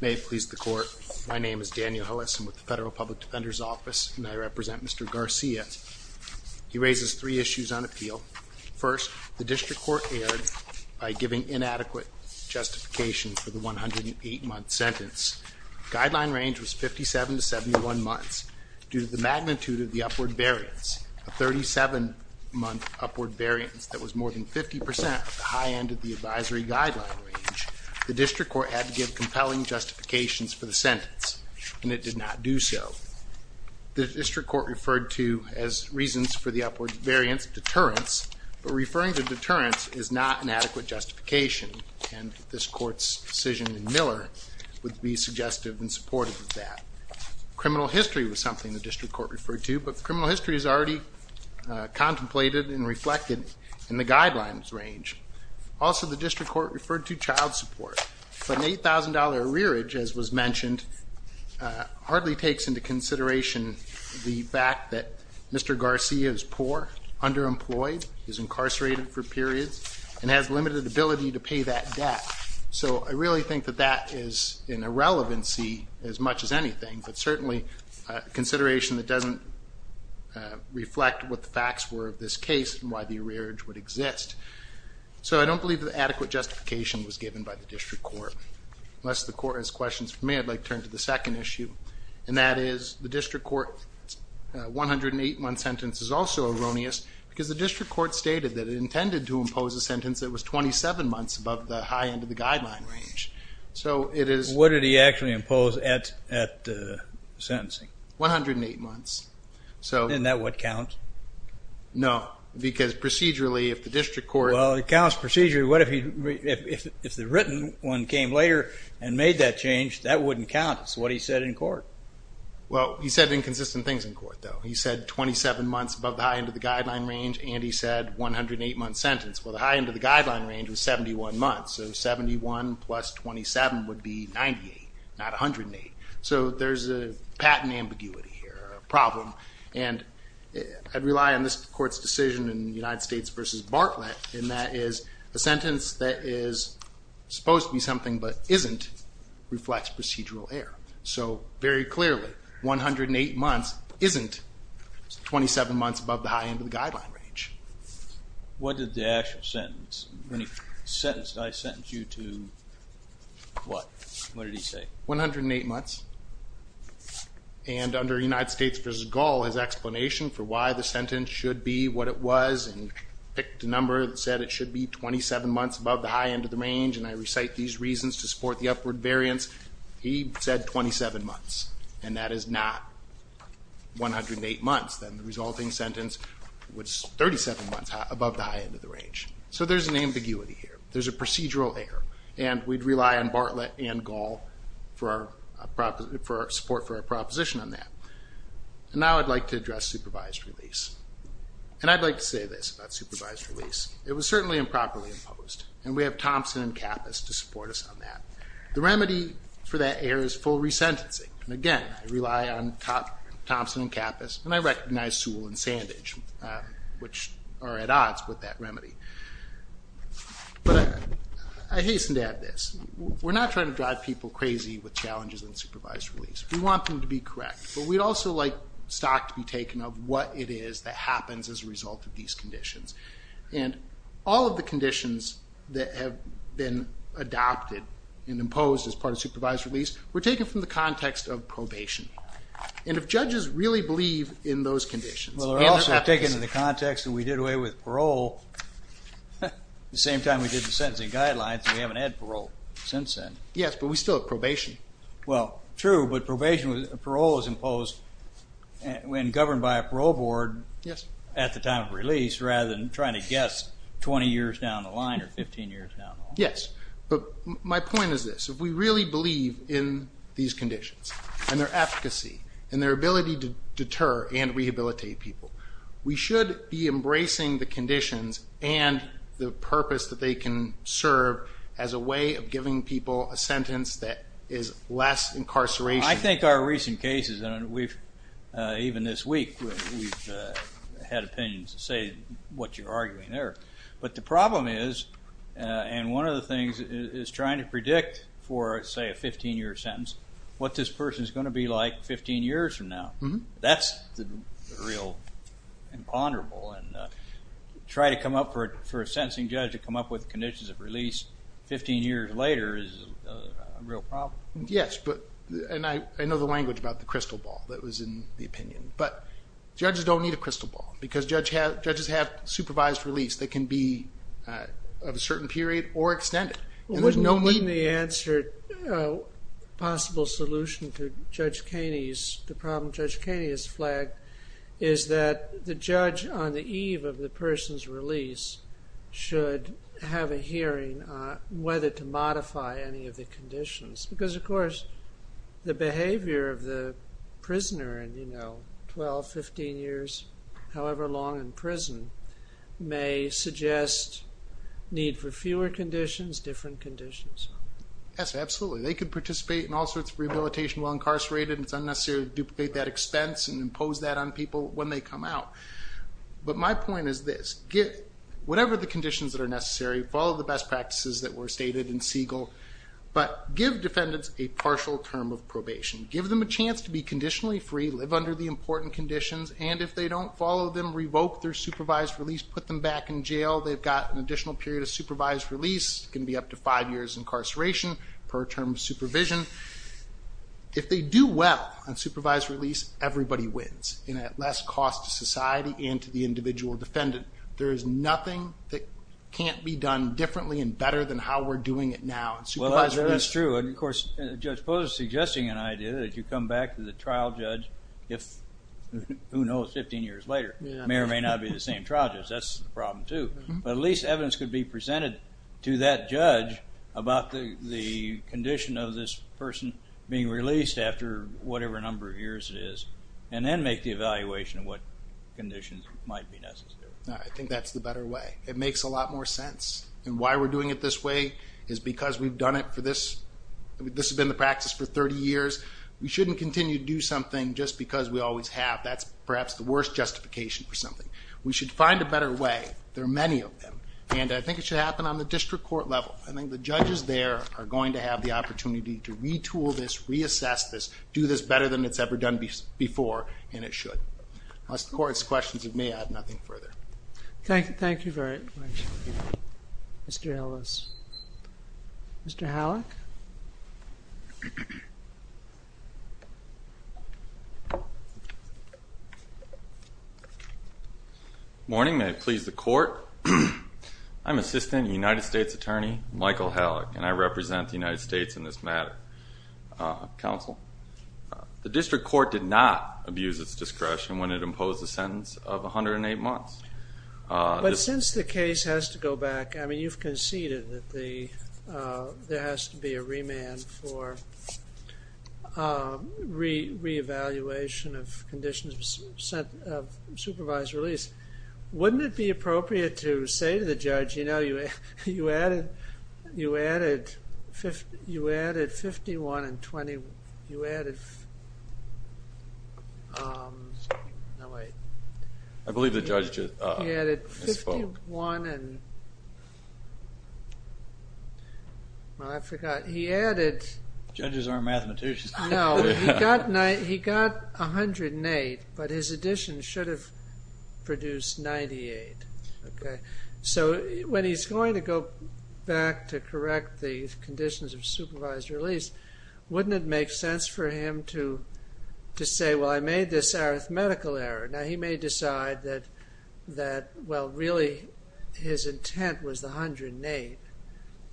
May it please the court, my name is Daniel Hoesen with the Federal Public Defender's Office and I represent Mr. Garcia. He raises three issues on appeal. First, the district court erred by giving inadequate justification for the 108-month sentence. Guideline range was 57 to 71 months. Due to the magnitude of the upward variance, a 37-month upward variance that was more than 50% of the high end of the advisory guideline range, the district court had to give compelling justifications for the sentence, and it did not do so. The district court referred to as reasons for the upward variance deterrence, but referring to deterrence is not an adequate justification and this court's decision in Miller would be suggestive and supportive of that. Criminal history was something the district court referred to, but criminal history is already contemplated and reflected in the guidelines range. Also, the district court referred to child support, but an $8,000 arrearage, as was mentioned, hardly takes into consideration the fact that Mr. Garcia is poor, underemployed, is incarcerated for periods, and has limited ability to pay that debt. So I really think that that is an irrelevancy as much as anything, but certainly a consideration that doesn't reflect what the facts were of this case and why the arrearage would exist. So I don't believe that adequate justification was given by the district court. Unless the court has questions for me, I'd like to turn to the second issue, and that is the district court 108-month sentence is also erroneous because the district court stated that it intended to impose a sentence that was 27 months above the high end of the guideline range. So it is... What did he actually impose at sentencing? 108 months. Isn't that what counts? No, because procedurally, if the district court... that wouldn't count. It's what he said in court. Well, he said inconsistent things in court, though. He said 27 months above the high end of the guideline range, and he said 108-month sentence. Well, the high end of the guideline range was 71 months, so 71 plus 27 would be 98, not 108. So there's a patent ambiguity here, a problem. And I'd rely on this court's decision in United States v. Bartlett, and that is a sentence that is supposed to be something but isn't reflects procedural error. So very clearly, 108 months isn't 27 months above the high end of the guideline range. What did the actual sentence... When he sentenced, did I sentence you to what? What did he say? 108 months. And under United States v. Gall, his explanation for why the sentence should be what it was, he picked a number that said it should be 27 months above the high end of the range, and I recite these reasons to support the upward variance. He said 27 months, and that is not 108 months. Then the resulting sentence was 37 months above the high end of the range. So there's an ambiguity here. There's a procedural error. And we'd rely on Bartlett and Gall for support for our proposition on that. And now I'd like to address supervised release. And I'd like to say this about supervised release. It was certainly improperly imposed, and we have Thompson and Kappas to support us on that. The remedy for that error is full resentencing. And, again, I rely on Thompson and Kappas, and I recognize Sewell and Sandage, which are at odds with that remedy. But I hasten to add this. We're not trying to drive people crazy with challenges in supervised release. We want them to be correct. But we'd also like stock to be taken of what it is that happens as a result of these conditions. And all of the conditions that have been adopted and imposed as part of supervised release were taken from the context of probation. I take it in the context that we did away with parole the same time we did the sentencing guidelines, and we haven't had parole since then. Yes, but we still have probation. Well, true, but probation with parole is imposed when governed by a parole board at the time of release, rather than trying to guess 20 years down the line or 15 years down the line. Yes. But my point is this. If we really believe in these conditions and their efficacy and their ability to deter and rehabilitate people, we should be embracing the conditions and the purpose that they can serve as a way of giving people a sentence that is less incarceration. I think our recent cases, and even this week we've had opinions to say what you're arguing there. But the problem is, and one of the things is trying to predict for, say, a 15-year sentence, what this person is going to be like 15 years from now. That's real imponderable. And try to come up for a sentencing judge to come up with conditions of release 15 years later is a real problem. Yes, and I know the language about the crystal ball that was in the opinion. But judges don't need a crystal ball because judges have supervised release. They can be of a certain period or extended. Wouldn't the answer, a possible solution to Judge Kaney's, the problem Judge Kaney has flagged, is that the judge on the eve of the person's release should have a hearing whether to modify any of the conditions. Because, of course, the behavior of the prisoner in 12, 15 years, however long in prison, may suggest need for fewer conditions, different conditions. Yes, absolutely. They could participate in all sorts of rehabilitation while incarcerated, and it's unnecessary to duplicate that expense and impose that on people when they come out. But my point is this. Whatever the conditions that are necessary, follow the best practices that were stated in Siegel, but give defendants a partial term of probation. Give them a chance to be conditionally free, live under the important conditions, and if they don't follow them, revoke their supervised release, put them back in jail. They've got an additional period of supervised release. It can be up to five years incarceration per term of supervision. If they do well on supervised release, everybody wins, and at less cost to society and to the individual defendant. There is nothing that can't be done differently and better than how we're doing it now. Supervised release is true. Of course, Judge Posner is suggesting an idea that you come back to the trial judge if, who knows, 15 years later. It may or may not be the same trial judge. That's the problem too. But at least evidence could be presented to that judge about the condition of this person being released after whatever number of years it is, and then make the evaluation of what conditions might be necessary. I think that's the better way. It makes a lot more sense. And why we're doing it this way is because we've done it for this. This has been the practice for 30 years. We shouldn't continue to do something just because we always have. That's perhaps the worst justification for something. We should find a better way. There are many of them, and I think it should happen on the district court level. I think the judges there are going to have the opportunity to retool this, reassess this, do this better than it's ever done before, and it should. Unless the court has questions of me, I have nothing further. Thank you very much, Mr. Ellis. Mr. Halleck? Morning. May it please the Court? I'm Assistant United States Attorney Michael Halleck, and I represent the United States in this matter. Counsel? The district court did not abuse its discretion when it imposed a sentence of 108 months. But since the case has to go back, I mean, you've conceded that there has to be a remand for reevaluation of conditions of supervised release. Wouldn't it be appropriate to say to the judge, you know, you added 51 and 20. You added, no wait. I believe the judge just spoke. He added 51 and, well, I forgot. He added. Judges aren't mathematicians. No, he got 108, but his addition should have produced 98. So when he's going to go back to correct the conditions of supervised release, wouldn't it make sense for him to say, well, I made this arithmetical error. Now, he may decide that, well, really his intent was the 108.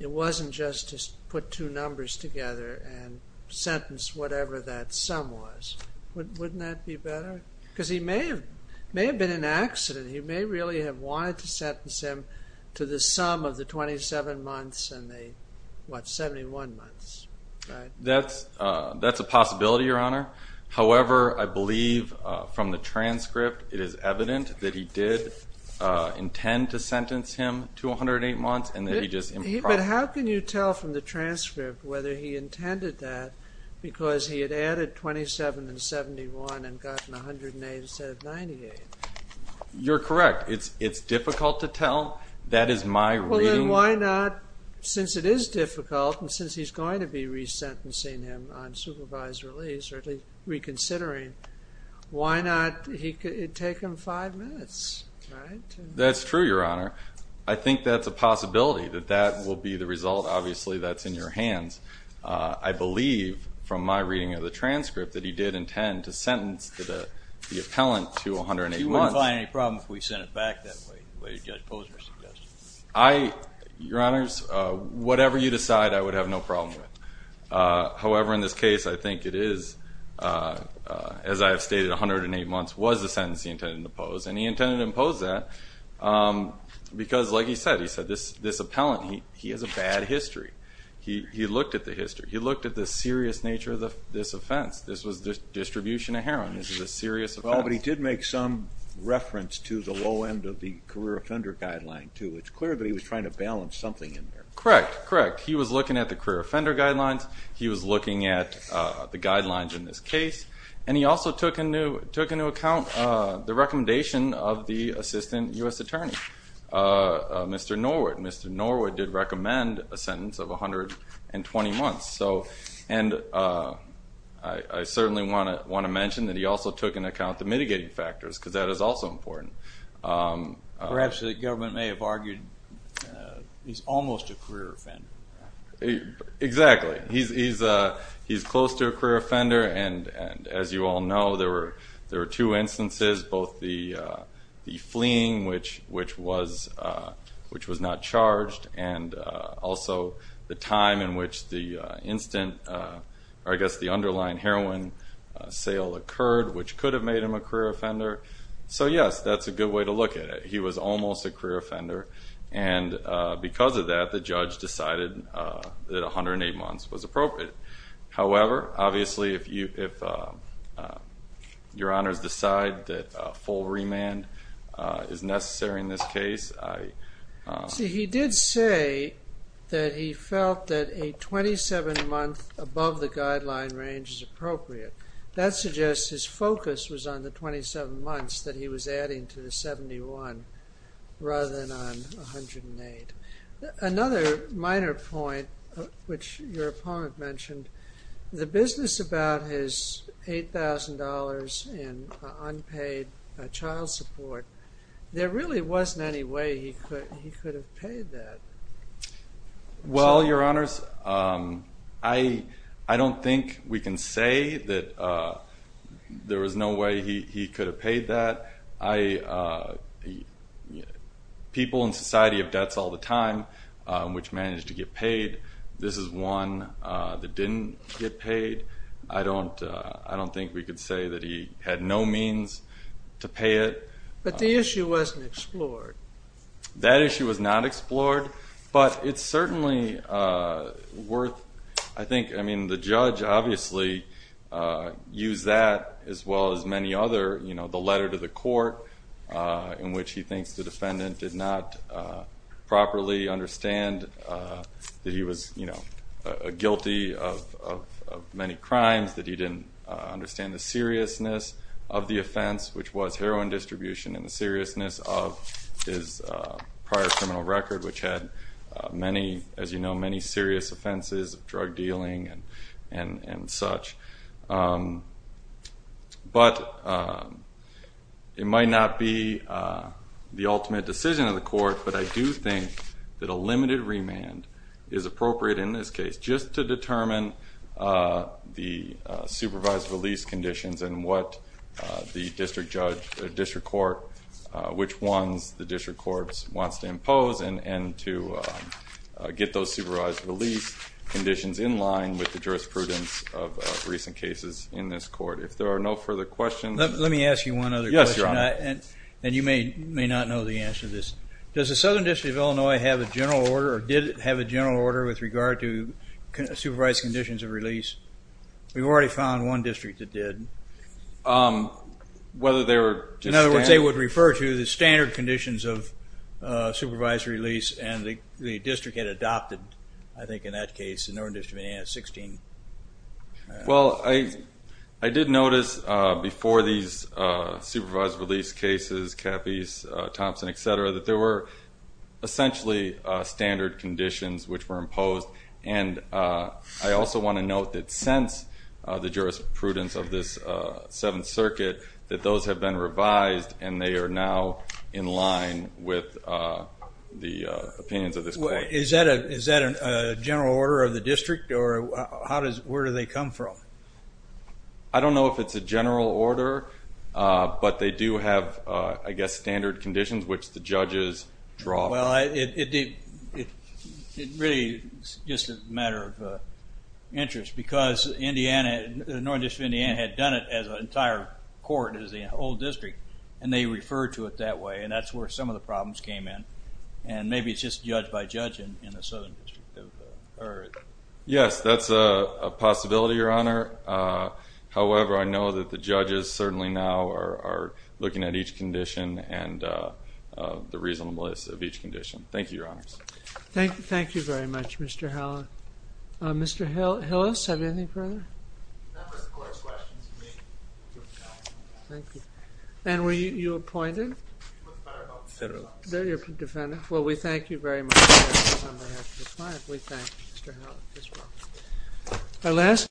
It wasn't just to put two numbers together and sentence whatever that sum was. Wouldn't that be better? Because he may have been in an accident. He may really have wanted to sentence him to the sum of the 27 months and the, what, 71 months, right? That's a possibility, Your Honor. However, I believe from the transcript it is evident that he did intend to sentence him to 108 months, and that he just imparted. But how can you tell from the transcript whether he intended that because he had added 27 and 71 and gotten 108 instead of 98? You're correct. It's difficult to tell. That is my reading. Well, then why not, since it is difficult and since he's going to be resentencing him on supervised release, or at least reconsidering, why not take him five minutes, right? That's true, Your Honor. I think that's a possibility, that that will be the result. Obviously, that's in your hands. I believe from my reading of the transcript that he did intend to sentence the appellant to 108 months. He wouldn't find any problem if we sent it back that way, the way Judge Posner suggested. Your Honors, whatever you decide, I would have no problem with. However, in this case, I think it is, as I have stated, 108 months was the sentence he intended to pose, and he intended to impose that because, like he said, this appellant, he has a bad history. He looked at the history. He looked at the serious nature of this offense. This was distribution of heroin. This is a serious offense. Well, but he did make some reference to the low end of the career offender guideline, too. It's clear that he was trying to balance something in there. Correct, correct. He was looking at the career offender guidelines. He was looking at the guidelines in this case. And he also took into account the recommendation of the assistant U.S. attorney, Mr. Norwood. Mr. Norwood did recommend a sentence of 120 months. And I certainly want to mention that he also took into account the mitigating factors because that is also important. Perhaps the government may have argued he's almost a career offender. Exactly. He's close to a career offender. And as you all know, there were two instances, both the fleeing, which was not charged, and also the time in which the instant, or I guess the underlying heroin sale occurred, which could have made him a career offender. So, yes, that's a good way to look at it. He was almost a career offender. And because of that, the judge decided that 108 months was appropriate. However, obviously, if Your Honors decide that full remand is necessary in this case, I See, he did say that he felt that a 27-month above the guideline range is appropriate. That suggests his focus was on the 27 months that he was adding to the 71 rather than on 108. Another minor point, which your opponent mentioned, the business about his $8,000 in unpaid child support, there really wasn't any way he could have paid that. Well, Your Honors, I don't think we can say that there was no way he could have paid that. People in society have debts all the time, which managed to get paid. This is one that didn't get paid. I don't think we could say that he had no means to pay it. But the issue wasn't explored. That issue was not explored. But it's certainly worth, I think, I mean, the judge obviously used that, as well as many other, you know, the letter to the court in which he thinks the defendant did not properly understand that he was, you know, guilty of many crimes, that he didn't understand the seriousness of the offense, which was heroin distribution and the seriousness of his prior criminal record, which had many, as you know, many serious offenses of drug dealing and such. But it might not be the ultimate decision of the court, but I do think that a limited remand is appropriate in this case just to determine the supervised release conditions and what the district court, which ones the district court wants to impose and to get those supervised release conditions in line with the jurisprudence of recent cases in this court. If there are no further questions. Let me ask you one other question. Yes, Your Honor. And you may not know the answer to this. Does the Southern District of Illinois have a general order or did it have a general order with regard to supervised conditions of release? We've already found one district that did. Whether they were just standard? In other words, they would refer to the standard conditions of supervised release and the district had adopted, I think in that case, the Northern District of Indiana at 16. Well, I did notice before these supervised release cases, Caffey's, Thompson, et cetera, that there were essentially standard conditions which were imposed. And I also want to note that since the jurisprudence of this Seventh Circuit that those have been revised and they are now in line with the opinions of this court. Is that a general order of the district or where do they come from? I don't know if it's a general order, but they do have, I guess, standard conditions which the judges draw from. Well, it really is just a matter of interest because the Northern District of Indiana had done it as an entire court as the whole district and they referred to it that way and that's where some of the problems came in. And maybe it's just judge by judge in the Southern District. Yes, that's a possibility, Your Honor. However, I know that the judges certainly now are looking at each condition and the reasonableness of each condition. Thank you, Your Honors. Thank you very much, Mr. Hallin. Mr. Hillis, have you anything further? No, Mr. Court. Thank you. And were you appointed? Federal. You're a defendant. Well, we thank you very much. We thank you, Mr. Hallin. I last?